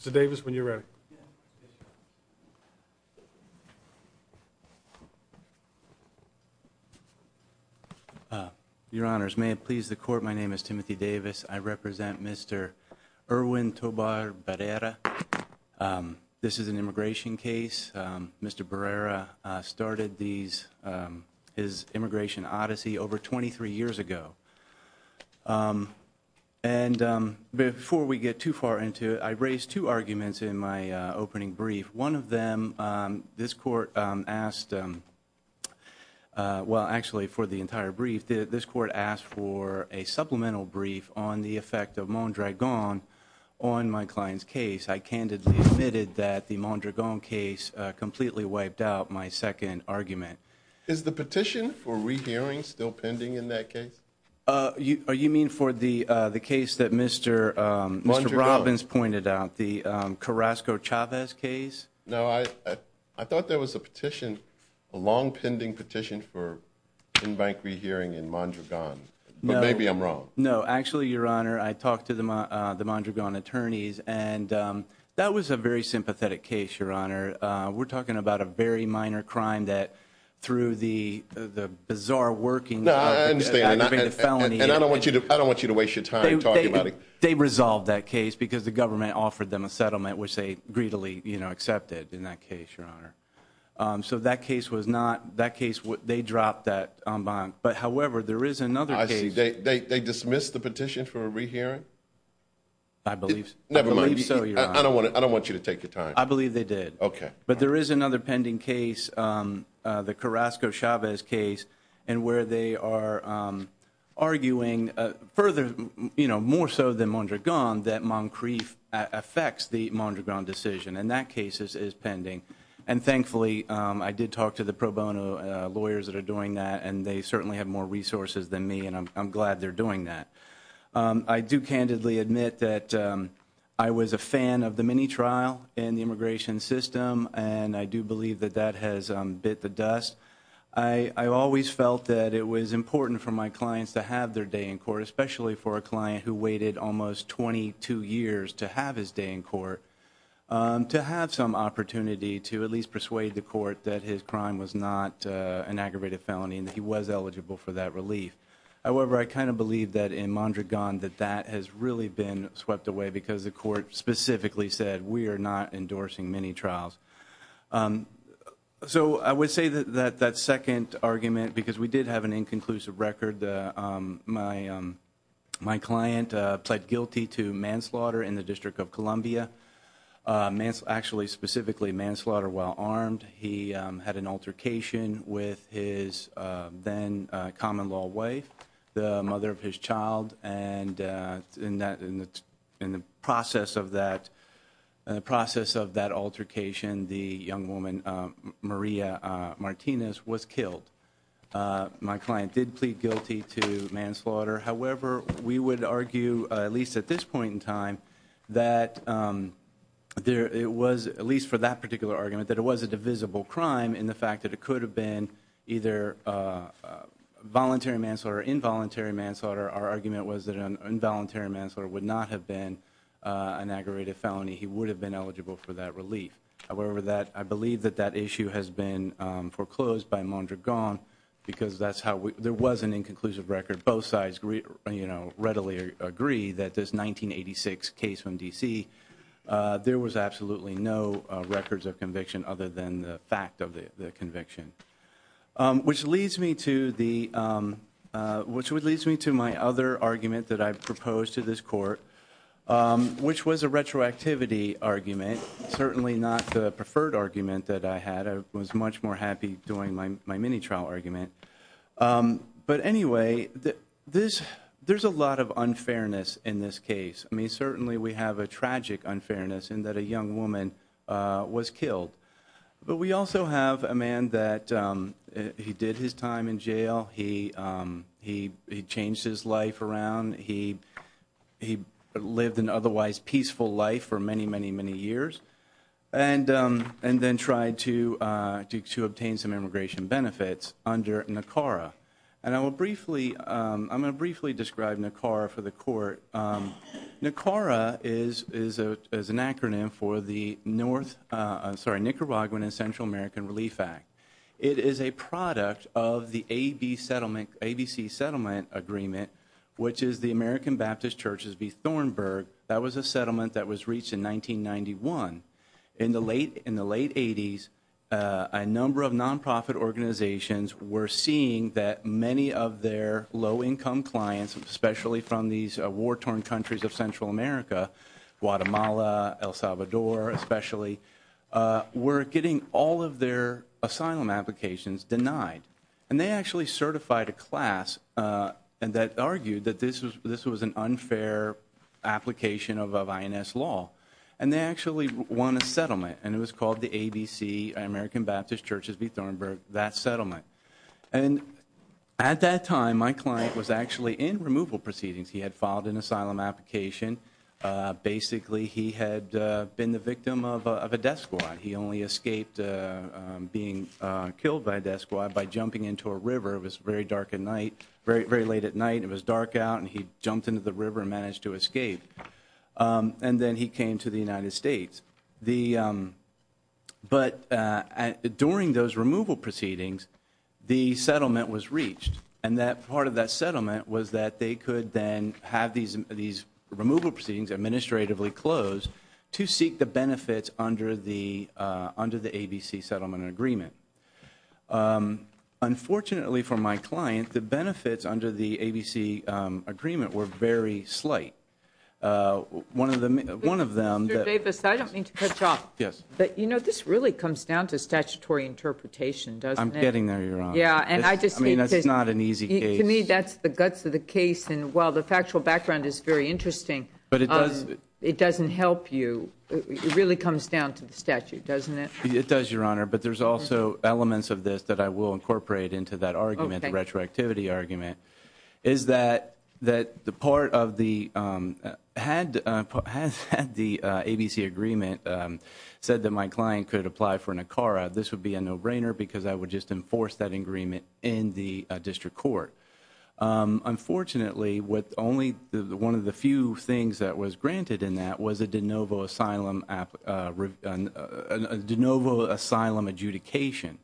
Mr. Davis, when you're ready. Your Honors, may it please the Court, my name is Timothy Davis. I represent Mr. Erwin Tobar-Barrera. This is an immigration case. Mr. Barrera started his immigration odyssey over 23 years ago. And before we get too far into it, I raised two arguments in my opening brief. One of them, this Court asked, well actually for the entire brief, this Court asked for a supplemental brief on the effect of Mondragon on my client's case. I candidly admitted that the Mondragon case completely wiped out my second argument. Is the petition for re-hearing still pending in that case? You mean for the case that Mr. Robbins pointed out, the Carrasco-Chavez case? No, I thought there was a petition, a long pending petition for pen bank re-hearing in Mondragon. But maybe I'm wrong. No, actually, Your Honor, I talked to the Mondragon attorneys and that was a very sympathetic case, Your Honor. We're talking about a very minor crime that through the bizarre working of the felony and I don't want you to waste your time talking about it. They resolved that case because the government offered them a settlement, which they greedily accepted in that case, Your Honor. So that case was not, that case, they dropped that bond. But however, there is another case. They dismissed the petition for a re-hearing? I believe so, Your Honor. I don't want you to take your time. I believe they did. Okay. But there is another pending case, the Carrasco-Chavez case, in where they are arguing further, more so than Mondragon, that Moncrief affects the Mondragon decision and that case is pending. And thankfully, I did talk to the pro bono lawyers that are doing that and they certainly have more resources than me and I'm glad they're doing that. I do candidly admit that I was a fan of the mini-trial in the immigration system and I do believe that that has bit the dust. I always felt that it was important for my clients to have their day in court, especially for a client who waited almost 22 years to have his day in court, to have some opportunity to at least persuade the court that his crime was not an aggravated felony and that he was for that relief. However, I kind of believe that in Mondragon that that has really been swept away because the court specifically said, we are not endorsing mini-trials. So I would say that that second argument, because we did have an inconclusive record, my client pled guilty to manslaughter in the District of Columbia, actually specifically manslaughter while armed. He had an altercation with his then common-law wife, the mother of his child, and in the process of that altercation, the young woman, Maria Martinez, was killed. My client did plead guilty to manslaughter. However, we would argue, at least at this point in time, that it was, at least for that particular argument, that it was a divisible crime in the fact that it could have been either voluntary manslaughter or involuntary manslaughter. Our argument was that an involuntary manslaughter would not have been an aggravated felony. He would have been eligible for that relief. However, I believe that that issue has been foreclosed by Mondragon because that's how we, there was an inconclusive record. Both sides readily agree that this 1986 case from D.C., there was absolutely no records of conviction other than the fact of the conviction, which leads me to my other argument that I've proposed to this Court, which was a retroactivity argument. Certainly not the preferred argument that I had. I was much more happy doing my mini-trial argument. But anyway, there's a lot of unfairness in this case. I mean, certainly we have a tragic unfairness in that a young woman was killed. But we also have a man that, he did his time in jail, he changed his life around, he lived an otherwise peaceful life for many, many, many years, and then tried to obtain some immigration benefits under NACARA. And I will briefly, I'm going to briefly describe NACARA for the Court. NACARA is an acronym for the North, sorry, Nicaraguan and Central American Relief Act. It is a product of the ABC settlement agreement, which is the American Baptist Church's B. Thornburg. That was a settlement that was reached in 1991. In the late 80s, a number of non-profit organizations were seeing that many of their low-income clients, especially from these war-torn countries of Central America, Guatemala, El Salvador especially, were getting all of their asylum applications denied. And they actually certified a class that argued that this was an unfair application of INS law. And they actually won a settlement, and it was called the ABC, American Baptist Church's B. Thornburg, that settlement. And at that time, my client was actually in removal proceedings. He had filed an asylum application. Basically, he had been the victim of a death squad. He only escaped being killed by a death squad by jumping into a river. It was very dark at night, very late at night, and it was dark out, and he jumped into the river and managed to escape. And then he came to the United States. But during those removal proceedings, the settlement was reached. And part of that settlement was that they could then have these removal proceedings administratively closed to seek the benefits under the ABC settlement agreement. Unfortunately for my client, the benefits under the ABC agreement were very slight. One of them— Mr. Davis, I don't mean to cut you off. Yes. But you know, this really comes down to statutory interpretation, doesn't it? I'm getting there, Your Honor. Yeah, and I just need to— I mean, this is not an easy case. To me, that's the guts of the case. And while the factual background is very interesting— But it does— It doesn't help you. It really comes down to the statute, doesn't it? It does, Your Honor. But there's also elements of this that I will incorporate into that argument, the retroactivity argument, is that the part of the—had the ABC agreement said that my client could apply for NACARA, this would be a no-brainer because I would just enforce that agreement in the district court. Unfortunately, one of the few things that was granted in that was a de novo asylum adjudication.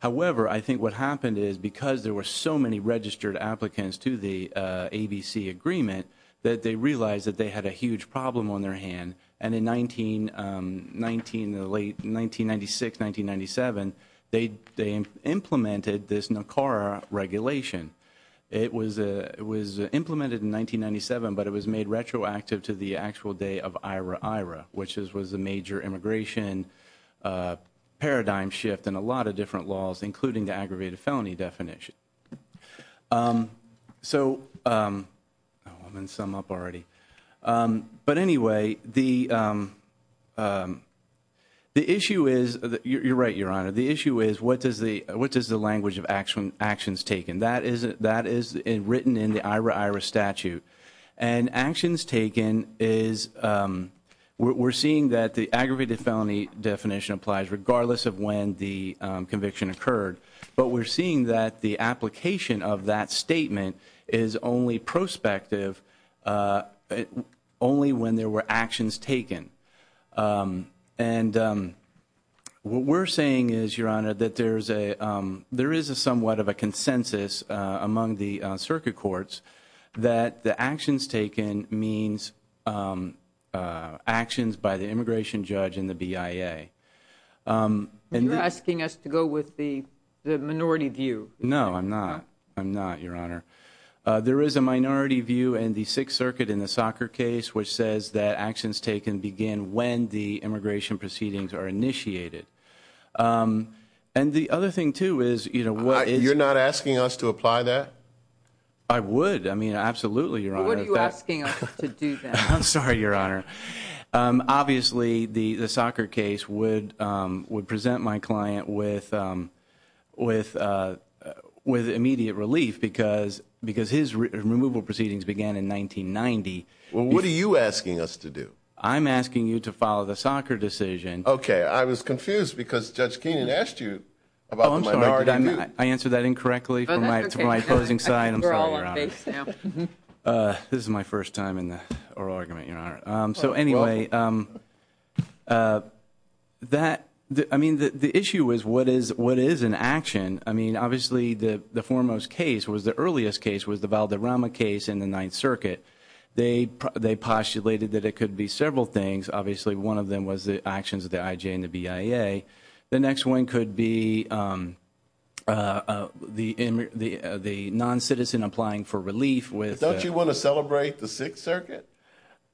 However, I think what happened is because there were so many registered applicants to the ABC agreement that they realized that they had a huge problem on their hand. And in 1996, 1997, they implemented this NACARA regulation. It was implemented in 1997, but it was made retroactive to the actual day of IRA-IRA, which was a major immigration paradigm shift in a lot of different laws, including the aggravated felony definition. So—I'm going to sum up already. But anyway, the issue is—you're right, Your Honor—the issue is what does the language of actions taken? That is written in the IRA-IRA statute. And actions taken is—we're seeing that the aggravated felony definition applies regardless of when the conviction occurred. But we're seeing that the application of that statement is only prospective only when there were actions taken. And what we're saying is, Your Honor, that there is a somewhat of a consensus among the people that actions taken means actions by the immigration judge and the BIA. And— You're asking us to go with the minority view. No, I'm not. I'm not, Your Honor. There is a minority view in the Sixth Circuit in the soccer case which says that actions taken begin when the immigration proceedings are initiated. And the other thing, too, is— You're not asking us to apply that? I would. Absolutely, Your Honor. What are you asking us to do, then? I'm sorry, Your Honor. Obviously, the soccer case would present my client with immediate relief because his removal proceedings began in 1990. What are you asking us to do? I'm asking you to follow the soccer decision. Okay. I was confused because Judge Keenan asked you about the minority view. I answered that incorrectly from my opposing side. I'm sorry, Your Honor. This is my first time in the oral argument, Your Honor. So, anyway, that—I mean, the issue is what is an action? I mean, obviously, the foremost case was—the earliest case was the Valderrama case in the Ninth Circuit. They postulated that it could be several things. Obviously, one of them was the actions of the IJ and the BIA. The next one could be the non-citizen applying for relief with— Don't you want to celebrate the Sixth Circuit?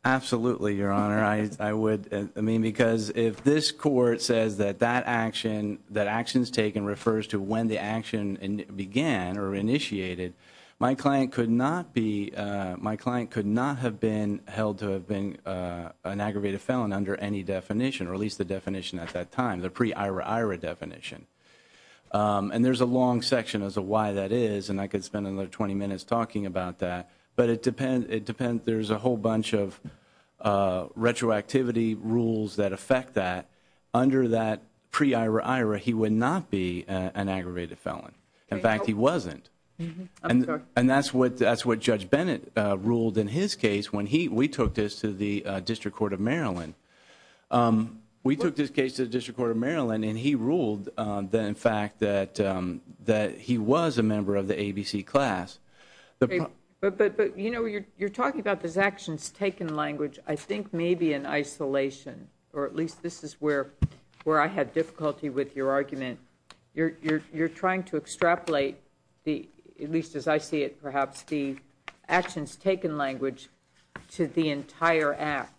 Absolutely, Your Honor. I would—I mean, because if this court says that that action—that actions taken refers to when the action began or initiated, my client could not be—my client could not have been held to have been an aggravated felon under any definition, or at least the definition at that time. The pre-IRA-IRA definition. And there's a long section as to why that is, and I could spend another 20 minutes talking about that. But it depends—there's a whole bunch of retroactivity rules that affect that. Under that pre-IRA-IRA, he would not be an aggravated felon. In fact, he wasn't. And that's what Judge Bennett ruled in his case when we took this to the District Court of Maryland. We took this case to the District Court of Maryland, and he ruled that, in fact, that he was a member of the ABC class. But, you know, you're talking about this actions taken language. I think maybe in isolation, or at least this is where I had difficulty with your argument. You're trying to extrapolate the—at least as I see it, perhaps—the actions taken language to the entire act,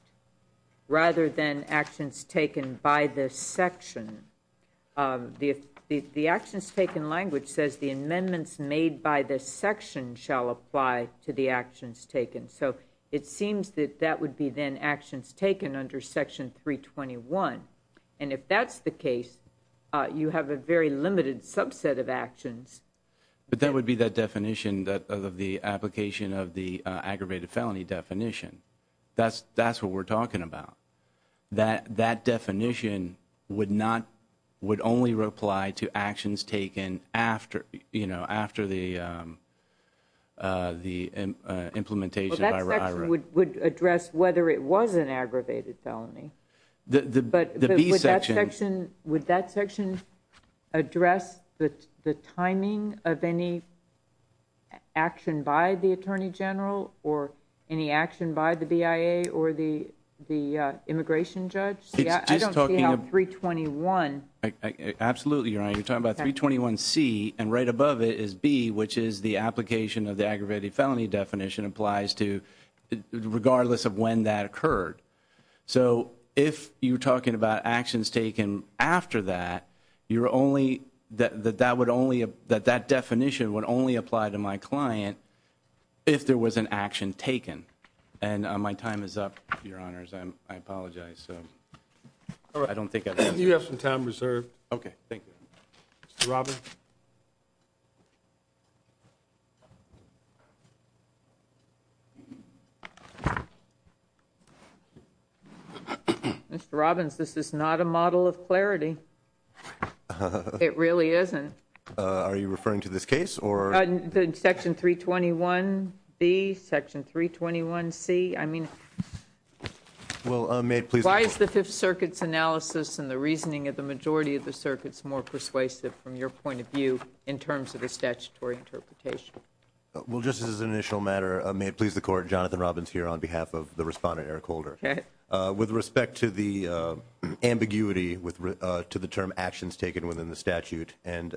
rather than actions taken by the section. The actions taken language says the amendments made by the section shall apply to the actions taken. So it seems that that would be then actions taken under Section 321. And if that's the case, you have a very limited subset of actions. But that would be that definition of the application of the aggravated felony definition. That's what we're talking about. That definition would not—would only reply to actions taken after, you know, after the implementation of IRA. Well, that section would address whether it was an aggravated felony. But would that section address the timing of any action by the attorney general or any action by the BIA or the immigration judge? It's just talking about 321. Absolutely, Your Honor. You're talking about 321C, and right above it is B, which is the application of the aggravated felony definition applies to—regardless of when that occurred. So if you're talking about actions taken after that, you're only—that that would only—that that definition would only apply to my client if there was an action taken. And my time is up, Your Honors. I'm—I apologize. So I don't think I've answered— You have some time reserved. Okay. Thank you. Mr. Roberts? Mr. Robbins, this is not a model of clarity. It really isn't. Are you referring to this case or— Section 321B, Section 321C. I mean— Well, may it please the Court— Why is the Fifth Circuit's analysis and the reasoning of the majority of the circuits more persuasive from your point of view in terms of the statutory interpretation? Well, just as an initial matter, may it please the Court, Jonathan Robbins here on behalf of the respondent, Eric Holder. With respect to the ambiguity with—to the term actions taken within the statute and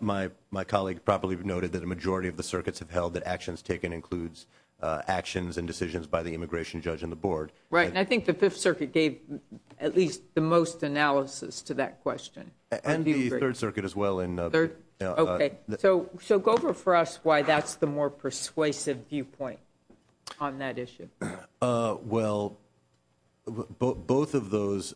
my colleague properly noted that a majority of the circuits have held that actions taken includes actions and decisions by the immigration judge and the board. Right. And I think the Fifth Circuit gave at least the most analysis to that question. And the Third Circuit as well in— Okay. So go over for us why that's the more persuasive viewpoint on that issue. Well, both of those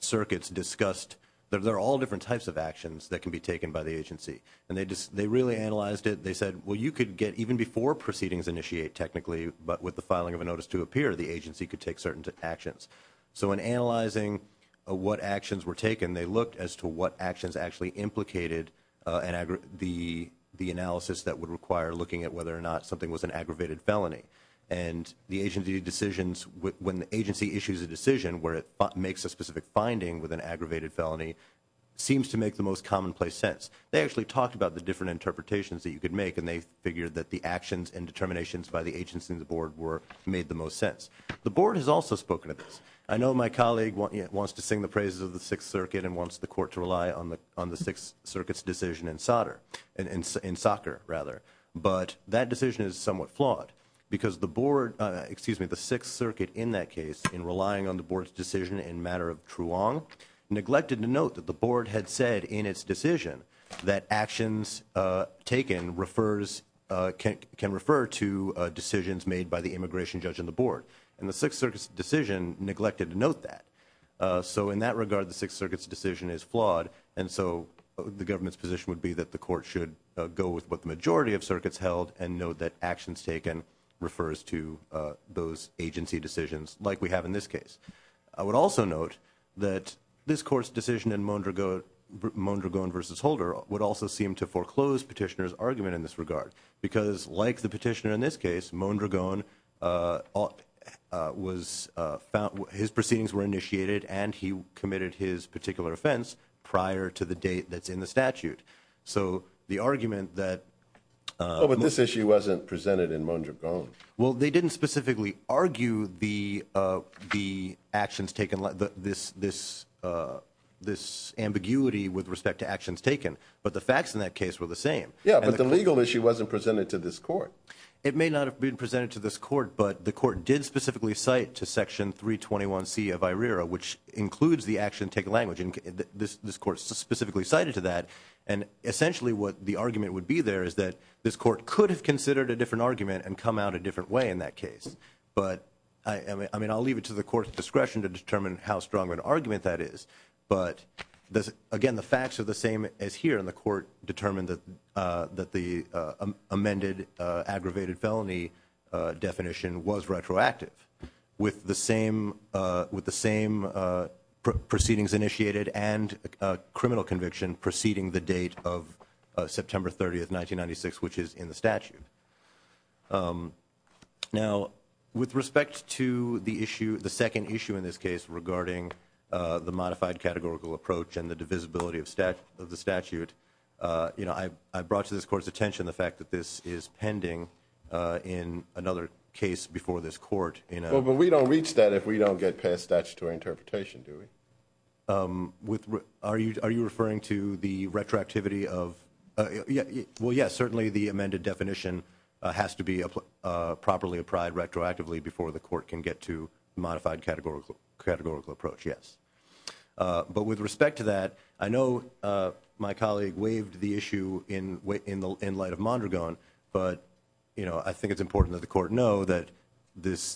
circuits discussed that there are all different types of actions that can be taken by the agency. And they really analyzed it. They said, well, you could get even before proceedings initiate technically, but with the filing of a notice to appear, the agency could take certain actions. So in analyzing what actions were taken, they looked as to what actions actually implicated the analysis that would require looking at whether or not something was an aggravated felony. And the agency decisions—when the agency issues a decision where it makes a specific finding with an aggravated felony seems to make the most commonplace sense. They actually talked about the different interpretations that you could make, and they figured that the actions and determinations by the agency and the board were—made the most sense. The board has also spoken of this. I know my colleague wants to sing the praises of the Sixth Circuit and wants the court to rely on the Sixth Circuit's decision in solder—in soccer, rather. But that decision is somewhat flawed because the board—excuse me, the Sixth Circuit in that case, in relying on the board's decision in matter of Truong, neglected to note that the board had said in its decision that actions taken refers—can refer to decisions made by the immigration judge and the board. And the Sixth Circuit's decision neglected to note that. So in that regard, the Sixth Circuit's decision is flawed. And so the government's position would be that the court should go with what the majority of circuits held and note that actions taken refers to those agency decisions like we have in this case. I would also note that this court's decision in Mondragon v. Holder would also seem to foreclose Petitioner's argument in this regard. Because like the Petitioner in this case, Mondragon was—his proceedings were initiated and he committed his particular offense prior to the date that's in the statute. So the argument that— Oh, but this issue wasn't presented in Mondragon. Well, they didn't specifically argue the actions taken, this ambiguity with respect to actions taken. But the facts in that case were the same. Yeah, but the legal issue wasn't presented to this court. It may not have been presented to this court, but the court did specifically cite to Section 321C of IRERA, which includes the action taken language. This court specifically cited to that. And essentially what the argument would be there is that this court could have considered a different argument and come out a different way in that case. But I mean, I'll leave it to the court's discretion to determine how strong an argument that is. But again, the facts are the same as here, and the court determined that the amended aggravated felony definition was retroactive. With the same proceedings initiated and criminal conviction preceding the date of September 30, 1996, which is in the statute. Now, with respect to the issue, the second issue in this case regarding the modified categorical approach and the divisibility of the statute, I brought to this court's that this is pending in another case before this court. Well, but we don't reach that if we don't get past statutory interpretation, do we? Are you referring to the retroactivity of? Well, yes, certainly the amended definition has to be properly applied retroactively before the court can get to modified categorical approach, yes. But with respect to that, I know my colleague waived the issue in the light of Mondragon, but I think it's important that the court know that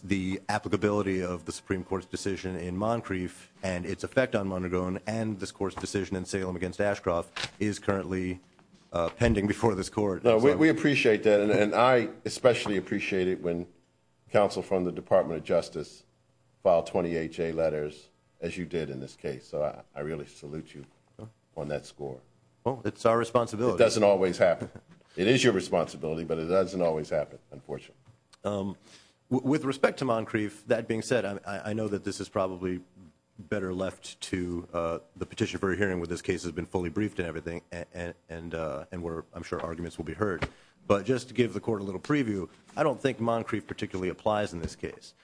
the applicability of the Supreme Court's decision in Moncrief and its effect on Mondragon and this court's decision in Salem against Ashcroft is currently pending before this court. We appreciate that, and I especially appreciate it when counsel from the Department of Justice file 20HA letters, as you did in this case. So I really salute you on that score. Well, it's our responsibility. It doesn't always happen. It is your responsibility, but it doesn't always happen, unfortunately. With respect to Moncrief, that being said, I know that this is probably better left to the petition for a hearing when this case has been fully briefed and everything, and where I'm sure arguments will be heard. But just to give the court a little preview, I don't think Moncrief particularly applies in this case.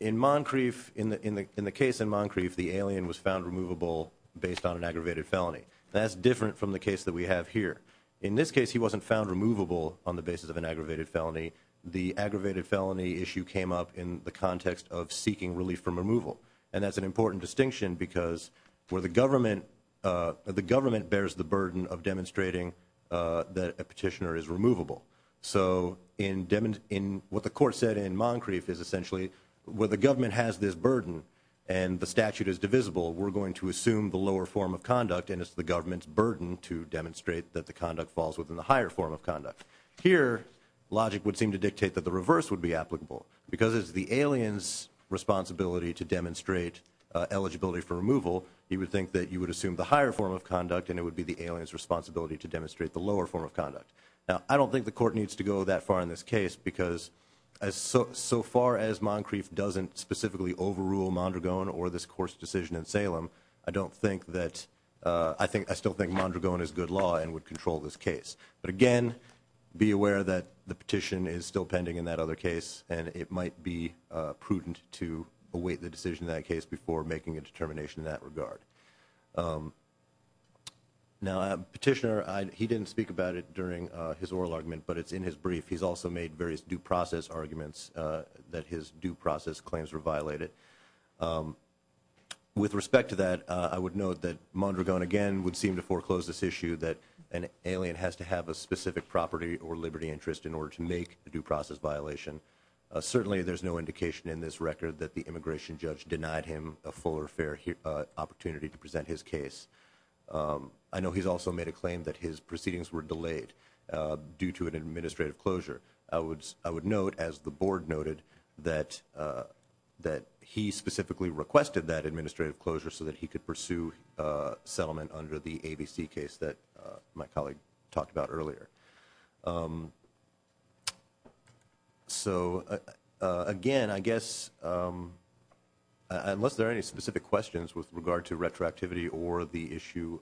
In Moncrief, in the case in Moncrief, the alien was found removable based on an aggravated felony. That's different from the case that we have here. In this case, he wasn't found removable on the basis of an aggravated felony. The aggravated felony issue came up in the context of seeking relief from removal. And that's an important distinction because where the government, the government bears the burden of demonstrating that a petitioner is removable. So, in what the court said in Moncrief is essentially where the government has this burden and the statute is divisible, we're going to assume the lower form of conduct and it's the government's burden to demonstrate that the conduct falls within the higher form of conduct. Here, logic would seem to dictate that the reverse would be applicable. Because it's the alien's responsibility to demonstrate eligibility for removal, you would think that you would assume the higher form of conduct and it would be the alien's responsibility to demonstrate the lower form of conduct. Now, I don't think the court needs to go that far in this case because so far as Moncrief doesn't specifically overrule Mondragon or this court's decision in Salem, I don't think that, I still think Mondragon is good law and would control this case. But again, be aware that the petition is still pending in that other case and it might be prudent to await the decision in that case before making a determination in that regard. Now, Petitioner, he didn't speak about it during his oral argument, but it's in his brief. He's also made various due process arguments that his due process claims were violated. With respect to that, I would note that Mondragon, again, would seem to foreclose this issue that an alien has to have a specific property or liberty interest in order to make a due process violation. Certainly, there's no indication in this record that the immigration judge denied him a full or fair opportunity to make a due process violation. But again, I would note that Mondragon did not have the authority to present his case. I know he's also made a claim that his proceedings were delayed due to an administrative closure. I would note, as the board noted, that he specifically requested that administrative closure so that he could pursue settlement under the ABC case that my colleague talked about earlier. So, again, I guess, unless there are any specific questions with regard to retroactivity or the issue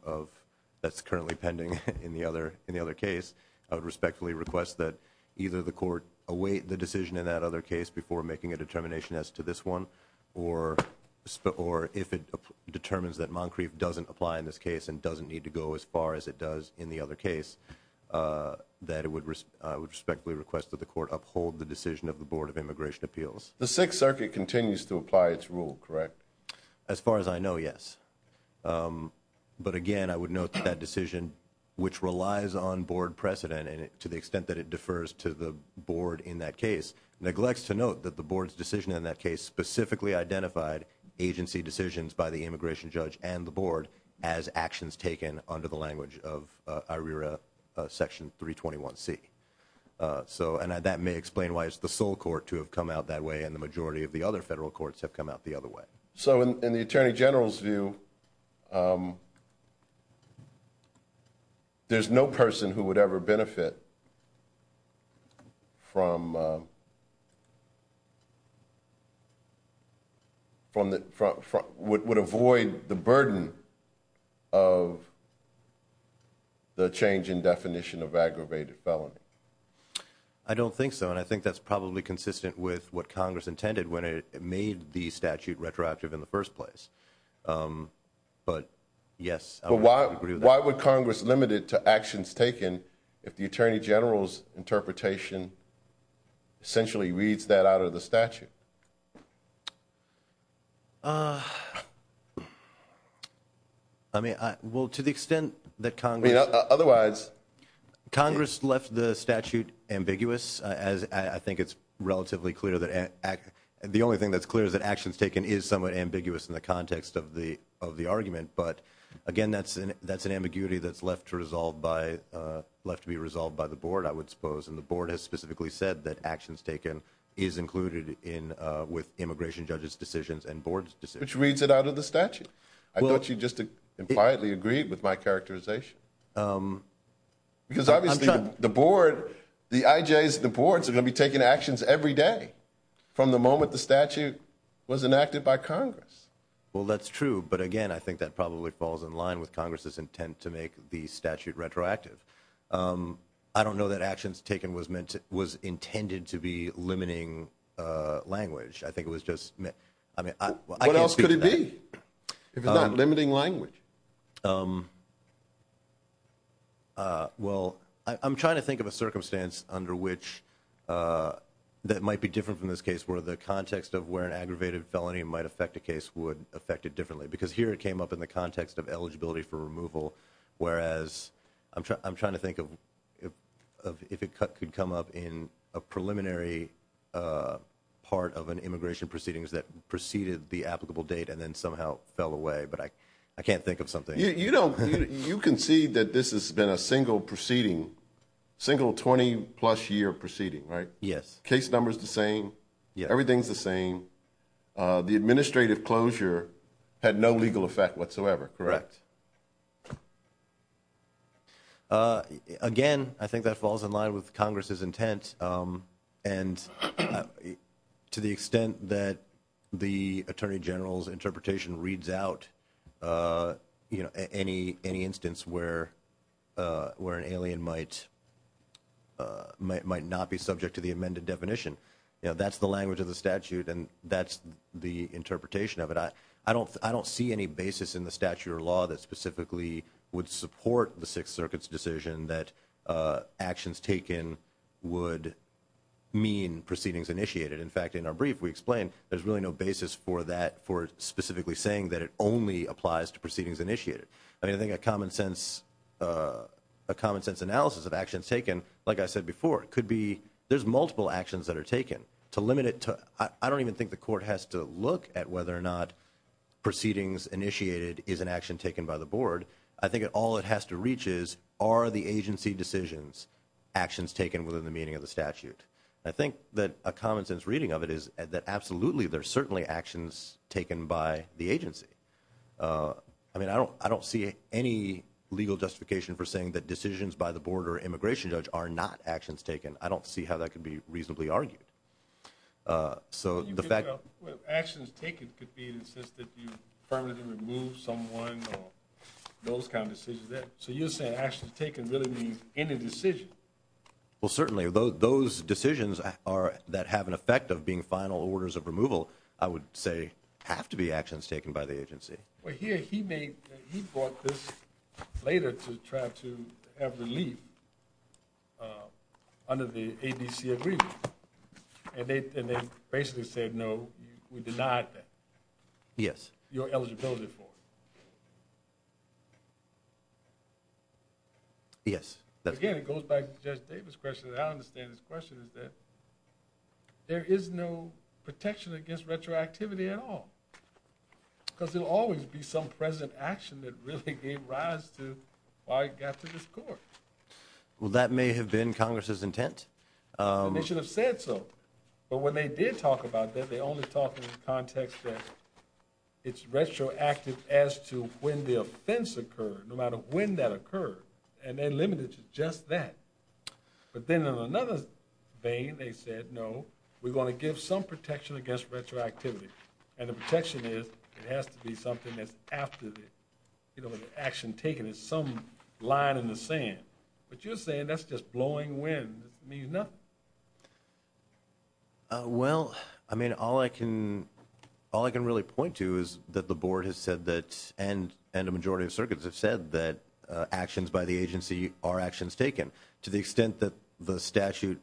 that's currently pending in the other case, I would respectfully request that either the court await the decision in that other case before making a determination as to this one, or if it determines that Moncrief doesn't apply in this case and doesn't need to go as far as it does in the other case. That I would respectfully request that the court uphold the decision of the Board of Immigration Appeals. The Sixth Circuit continues to apply its rule, correct? As far as I know, yes. But again, I would note that that decision, which relies on board precedent to the extent that it defers to the board in that case, neglects to note that the board's decision in that case specifically identified agency decisions by the immigration judge and the So, and that may explain why it's the sole court to have come out that way and the majority of the other federal courts have come out the other way. So, in the Attorney General's view, there's no person who would ever benefit from, would avoid the burden of the change in definition of aggravated felony. I don't think so, and I think that's probably consistent with what Congress intended when it made the statute retroactive in the first place. But yes, I would agree with that. Why would Congress limit it to actions taken if the Attorney General's interpretation essentially reads that out of the statute? I mean, well, to the extent that Congress... Otherwise... Congress left the statute ambiguous, as I think it's relatively clear that... The only thing that's clear is that actions taken is somewhat ambiguous in the context of the argument. But again, that's an ambiguity that's left to resolve by, left to be resolved by the board, I would suppose. And the board has specifically said that actions taken is included with immigration judge's decisions and board's decisions. Which reads it out of the statute. I thought you just impliedly agreed with my characterization. Because obviously, the board, the IJs, the boards are going to be taking actions every day from the moment the statute was enacted by Congress. Well, that's true. But again, I think that probably falls in line with Congress's intent to make the statute retroactive. I don't know that actions taken was intended to be limiting language. I think it was just... What else could it be, if it's not limiting language? Well, I'm trying to think of a circumstance under which that might be different from this case, where the context of where an aggravated felony might affect a case would affect it differently. Because here it came up in the context of eligibility for removal. Whereas, I'm trying to think of if it could come up in a preliminary part of an immigration proceedings that preceded the applicable date and then somehow fell away. But I can't think of something. You concede that this has been a single proceeding, single 20 plus year proceeding, right? Yes. Case number's the same. Everything's the same. The administrative closure had no legal effect whatsoever, correct? Again, I think that falls in line with Congress's intent. And to the extent that the Attorney General's interpretation reads out any instance where an alien might not be subject to the amended definition, that's the language of the statute and that's the interpretation of it. I don't see any basis in the statute or law that specifically would support the Sixth Amendment. I don't see any basis in the statute or law that specifically would mean proceedings initiated. In fact, in our brief, we explained there's really no basis for that, for specifically saying that it only applies to proceedings initiated. I mean, I think a common sense analysis of actions taken, like I said before, could be there's multiple actions that are taken. To limit it to, I don't even think the court has to look at whether or not proceedings initiated is an action taken by the board. I think all it has to reach is, are the agency decisions, actions taken within the meaning of the statute. I think that a common sense reading of it is that absolutely, there's certainly actions taken by the agency. I mean, I don't see any legal justification for saying that decisions by the board or immigration judge are not actions taken. I don't see how that could be reasonably argued. So the fact... Well, actions taken could be in the sense that you permanently remove someone or those kind of decisions. So you're saying actions taken really means any decision? Well, certainly, those decisions that have an effect of being final orders of removal, I would say have to be actions taken by the agency. Well, here he brought this later to try to have relief under the ADC agreement. And they basically said, no, we denied that. Yes. Your eligibility for it. Yes. Again, it goes back to Judge Davis' question. And I understand his question is that there is no protection against retroactivity at all, because there will always be some present action that really gave rise to why it got to this court. Well, that may have been Congress's intent. They should have said so. But when they did talk about that, they only talked in the context that it's retroactive as to when the offense occurred, no matter when that occurred, and then limited to just that. But then in another vein, they said, no, we're going to give some protection against retroactivity. And the protection is it has to be something that's after the action taken is some line in the sand. But you're saying that's just blowing wind. It means nothing. Well, I mean, all I can all I can really point to is that the board has said that and a majority of circuits have said that actions by the agency are actions taken to the extent that the statute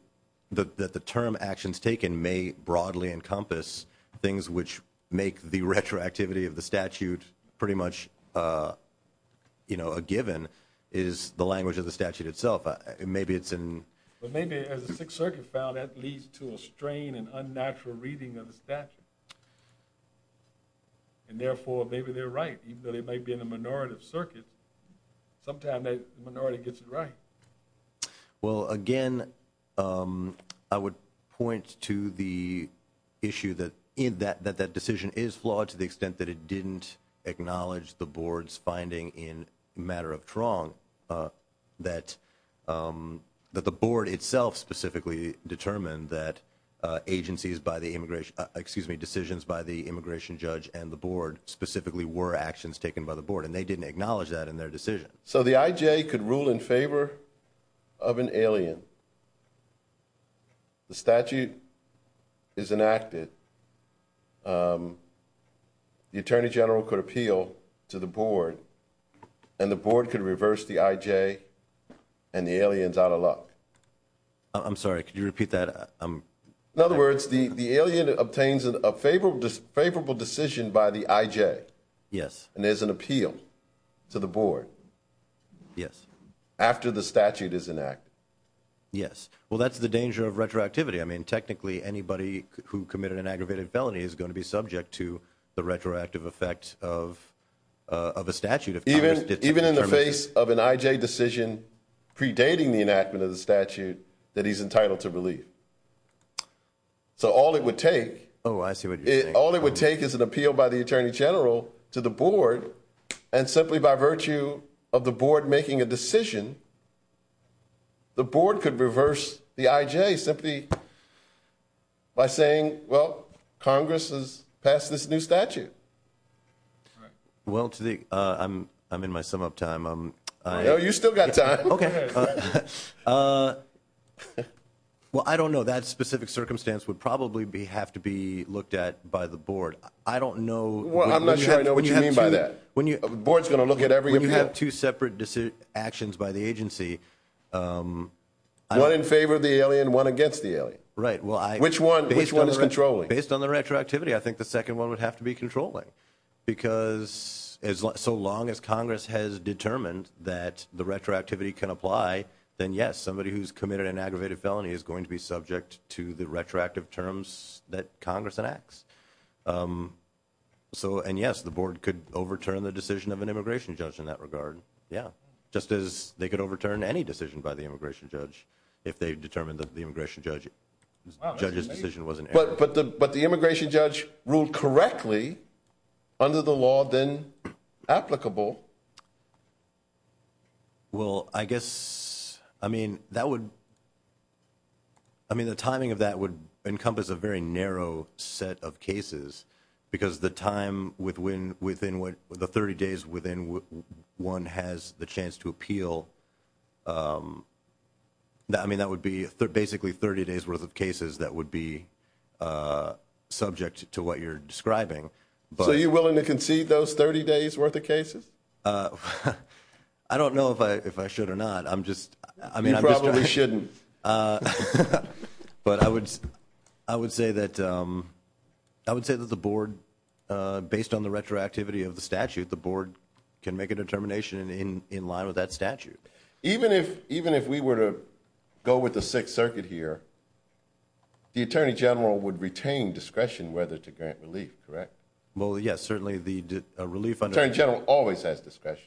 that the term actions taken may broadly encompass things which make the retroactivity of the statute pretty much, you know, a given is the language of the statute itself. Maybe it's in. But maybe as the Sixth Circuit found that leads to a strain and unnatural reading of the statute. And therefore, maybe they're right, even though they may be in a minority of circuits. Sometime that minority gets it right. Well, again, I would point to the issue that in that that that decision is flawed to the specifically determined that agencies by the immigration, excuse me, decisions by the immigration judge and the board specifically were actions taken by the board. And they didn't acknowledge that in their decision. So the IJ could rule in favor of an alien. The statute is enacted. The attorney general could appeal to the board and the board could reverse the IJ and the aliens out of luck. I'm sorry, could you repeat that? I'm in other words, the alien obtains a favorable, favorable decision by the IJ. Yes. And there's an appeal to the board. Yes. After the statute is enacted. Yes. Well, that's the danger of retroactivity. I mean, technically, anybody who committed an aggravated felony is going to be subject to the retroactive effect of of a statute of even even in the face of an IJ decision predating the enactment of the statute that he's entitled to believe. So all it would take. Oh, I see what you're saying. All it would take is an appeal by the attorney general to the board and simply by virtue of the board making a decision. The board could reverse the IJ simply by saying, well, Congress has passed this new statute. Well, I'm I'm in my sum up time. You still got time. OK. Well, I don't know that specific circumstance would probably be have to be looked at by the board. I don't know. Well, I'm not sure I know what you mean by that. When you board's going to look at every you have two separate actions by the agency. One in favor of the alien, one against the alien. Right. Well, I which one which one is controlling based on the retroactivity? I think the second one would have to be controlling because as so long as Congress has determined that the retroactivity can apply, then, yes, somebody who's committed an aggravated felony is going to be subject to the retroactive terms that Congress enacts. So and yes, the board could overturn the decision of an immigration judge in that regard. Yeah. Just as they could overturn any decision by the immigration judge if they determined that the immigration judge judge's decision wasn't. But the immigration judge ruled correctly under the law, then applicable. Well, I guess I mean, that would. I mean, the timing of that would encompass a very narrow set of cases because the time with when within what the 30 days within one has the chance to appeal. I mean, that would be basically 30 days worth of cases that would be subject to what you're describing. But are you willing to concede those 30 days worth of cases? I don't know if I if I should or not. I'm just I mean, I probably shouldn't. But I would I would say that I would say that the board based on the retroactivity of the statute, the board can make a determination in line with that statute. Even if even if we were to go with the Sixth Circuit here. The attorney general would retain discretion whether to grant relief, correct? Well, yes, certainly the relief attorney general always has discretion.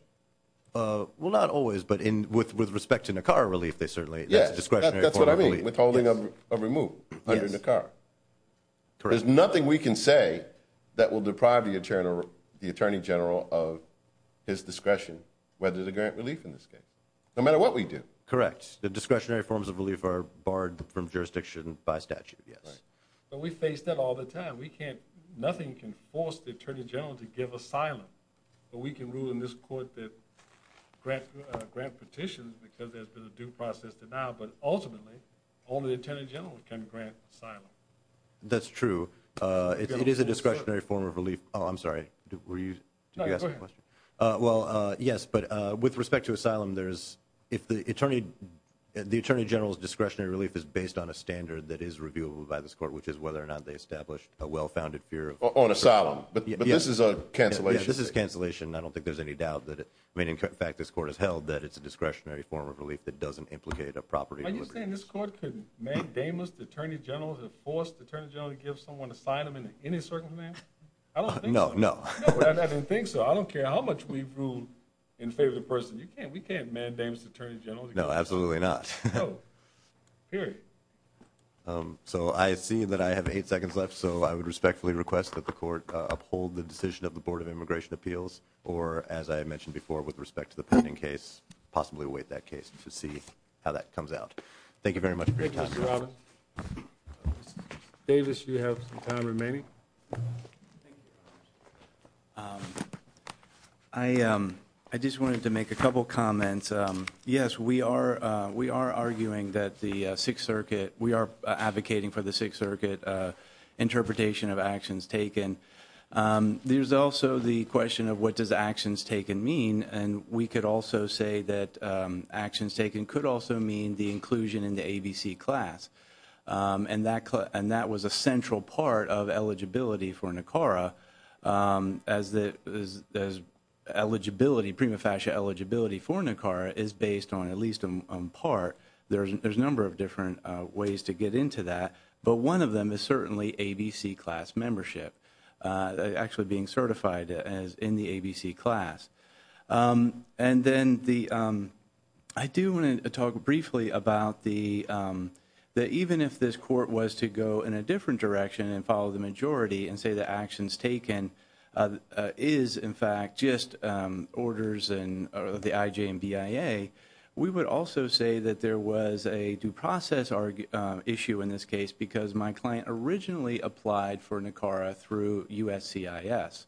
Well, not always. But in with with respect to Nicara relief, they certainly. Yes, that's what I mean. Withholding of a removed under the car. There's nothing we can say that will deprive the attorney, the attorney general of his discretion whether to grant relief in this case. No matter what we do. Correct. The discretionary forms of relief are barred from jurisdiction by statute. Yes, but we face that all the time. We can't. Nothing can force the attorney general to give asylum. But we can rule in this court that grant grant petitions because there's been a due process to now. But ultimately, only the attorney general can grant asylum. That's true. It is a discretionary form of relief. Oh, I'm sorry. Were you asking a question? Well, yes. But with respect to asylum, there's if the attorney, the attorney general's discretionary relief is based on a standard that is reviewed by this court, which is whether or not they established a well-founded fear on asylum. But this is a cancellation. This is cancellation. I don't think there's any doubt that I mean, in fact, this court has held that it's a discretionary form of relief that doesn't implicate a property. Are you saying this court could make damage? The attorney general has forced the attorney general to give someone asylum in any circumstance? I don't know. No, I don't think so. I don't care how much we've ruled in favor of the person. You can't we can't mandate attorney general. No, absolutely not. Period. So I see that I have eight seconds left. So I would respectfully request that the court uphold the decision of the Board of Immigration Appeals or, as I mentioned before, with respect to the pending case, possibly await that case to see how that comes out. Thank you very much. Davis, you have some time remaining. I just wanted to make a couple comments. Yes, we are. We are arguing that the Sixth Circuit, we are advocating for the Sixth Circuit interpretation of actions taken. There's also the question of what does actions taken mean? And we could also say that actions taken could also mean the inclusion in the ABC class. And that was a central part of eligibility for NACARA, as eligibility, prima facie eligibility for NACARA is based on, at least on part, there's a number of different ways to get into that. But one of them is certainly ABC class membership, actually being certified as in the ABC class. And then the, I do want to talk briefly about the, that even if this court was to go in a different direction and follow the majority and say that actions taken is, in fact, just orders and the IJ and BIA, we would also say that there was a due process issue in this case because my client originally applied for NACARA through USCIS.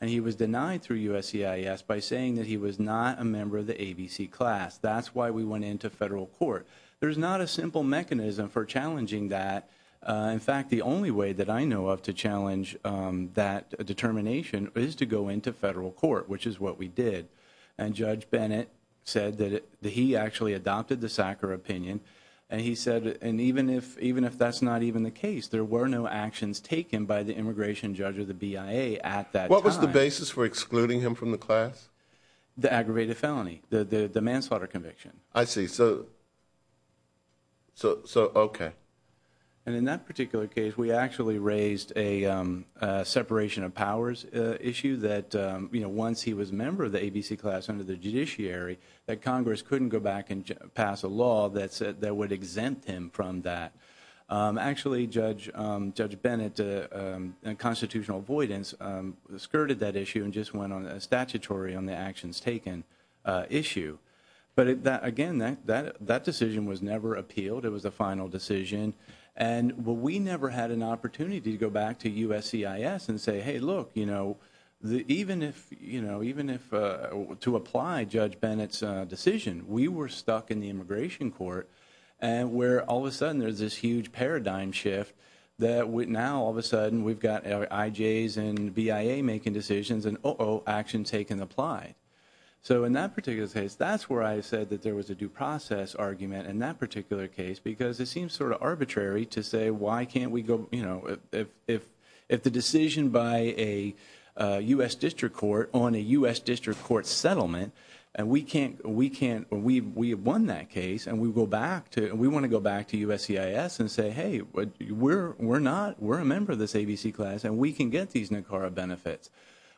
And he was denied through USCIS by saying that he was not a member of the ABC class. That's why we went into federal court. There's not a simple mechanism for challenging that. In fact, the only way that I know of to challenge that determination is to go into federal court, which is what we did. And Judge Bennett said that he actually adopted the SACRA opinion. And he said, and even if, even if that's not even the case, there were no actions taken by the immigration judge or the BIA at that time. What was the basis for excluding him from the class? The aggravated felony, the manslaughter conviction. I see. So, so, so, okay. And in that particular case, we actually raised a separation of powers issue that, you know, once he was a member of the ABC class under the judiciary, that Congress couldn't go back and pass a law that said that would exempt him from that. Actually, Judge Bennett and constitutional avoidance skirted that issue and just went on a statutory on the actions taken issue. But again, that decision was never appealed. It was the final decision. And we never had an opportunity to go back to USCIS and say, hey, look, you know, even if, you know, even if to apply Judge Bennett's decision, we were stuck in the immigration court and where all of a sudden there's this huge paradigm shift that now all of a sudden we've got IJs and BIA making decisions and, oh, oh, actions taken apply. So in that particular case, that's where I said that there was a due process argument in that particular case because it seems sort of arbitrary to say, why can't we go, you know, if, if, if the decision by a U.S. district court on a U.S. district court settlement and we can't, we can't, we, we have won that case and we go back to, we want to go back to USCIS and say, hey, we're, we're not, we're a member of this ABC class and we can get these NACARA benefits.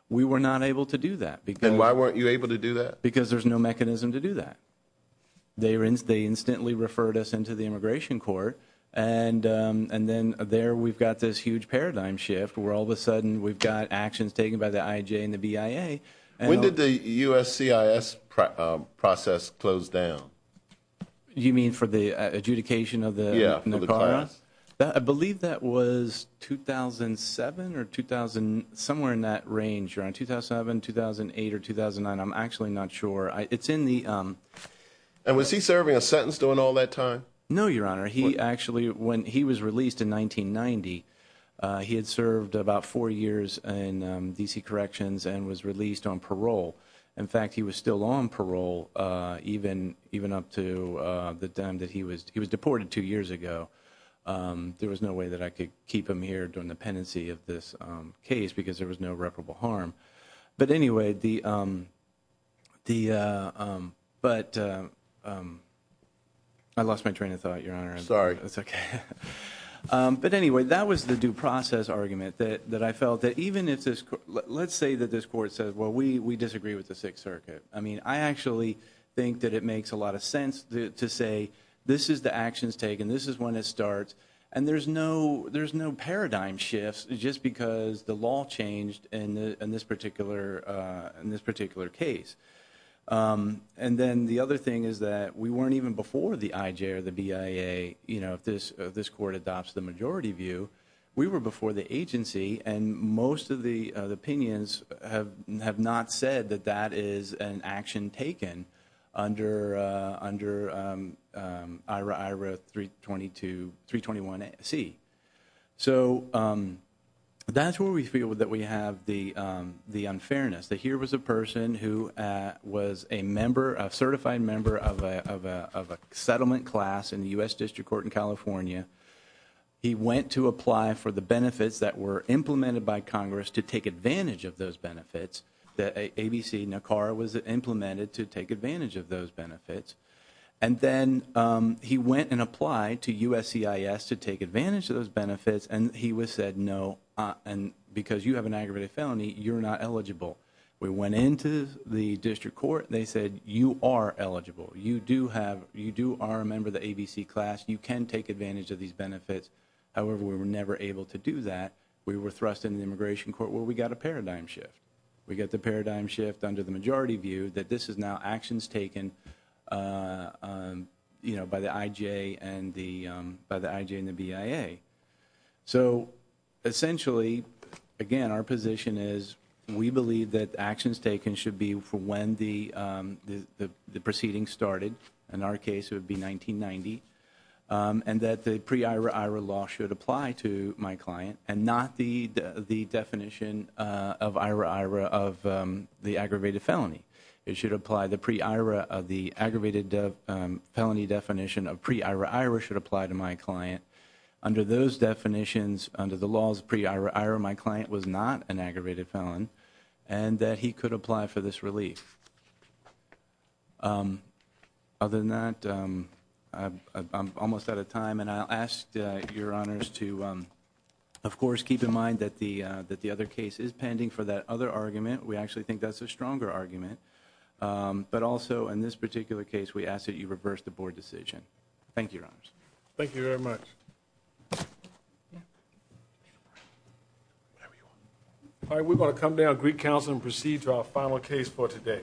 We were not able to do that. And why weren't you able to do that? Because there's no mechanism to do that. They were in, they instantly referred us into the immigration court and, and then there we've got this huge paradigm shift where all of a sudden we've got actions taken by the IJ and the BIA. When did the USCIS process close down? You mean for the adjudication of the NACARA? Yeah, for the class. I believe that was 2007 or 2000, somewhere in that range around 2007, 2008, or 2009. I'm actually not sure. It's in the. And was he serving a sentence during all that time? No, your honor. He actually, when he was released in 1990, he had served about four years in D.C. Corrections and was released on parole. In fact, he was still on parole even, even up to the time that he was, he was deported two years ago. There was no way that I could keep him here during the pendency of this case because there was no reparable harm. But anyway, the, the, but I lost my train of thought, your honor. Sorry. That's okay. But anyway, that was the due process argument that, that I felt that even if this, let's say that this court says, well, we, we disagree with the Sixth Circuit. I mean, I actually think that it makes a lot of sense to say, this is the actions taken. This is when it starts. And there's no, there's no paradigm shifts just because the law changed in the, in this particular, in this particular case. And then the other thing is that we weren't even before the IJ or the BIA, you know, if this court adopts the majority view. We were before the agency and most of the opinions have, have not said that that is an action taken under, under IRA, IRA 322, 321C. So that's where we feel that we have the, the unfairness. That here was a person who was a member, a certified member of a, of a, of a settlement class in the U.S. District Court in California. He went to apply for the benefits that were implemented by Congress to take advantage of those benefits, that ABC NACAR was implemented to take advantage of those benefits. And then he went and applied to USCIS to take advantage of those benefits. And he was said, no, and because you have an aggravated felony, you're not eligible. We went into the district court. They said, you are eligible. You do have, you do are a member of the ABC class. You can take advantage of these benefits. However, we were never able to do that. We were thrust into the immigration court where we got a paradigm shift. We got the paradigm shift under the majority view that this is now actions taken, you know, by the IJ and the, by the IJ and the BIA. So essentially, again, our position is we believe that actions taken should be for when the proceeding started. In our case, it would be 1990, and that the pre-IRA-IRA law should apply to my client and not the definition of IRA-IRA of the aggravated felony. It should apply the pre-IRA of the aggravated felony definition of pre-IRA-IRA should apply to my client. Under those definitions, under the laws of pre-IRA-IRA, my client was not an aggravated felon, and that he could apply for this relief. Other than that, I'm almost out of time. And I'll ask your honors to, of course, keep in mind that the other case is pending for that other argument. We actually think that's a stronger argument. But also, in this particular case, we ask that you reverse the board decision. Thank you, your honors. Thank you very much. All right. We're going to come down to Greek Council and proceed to our final case for today. Thank you.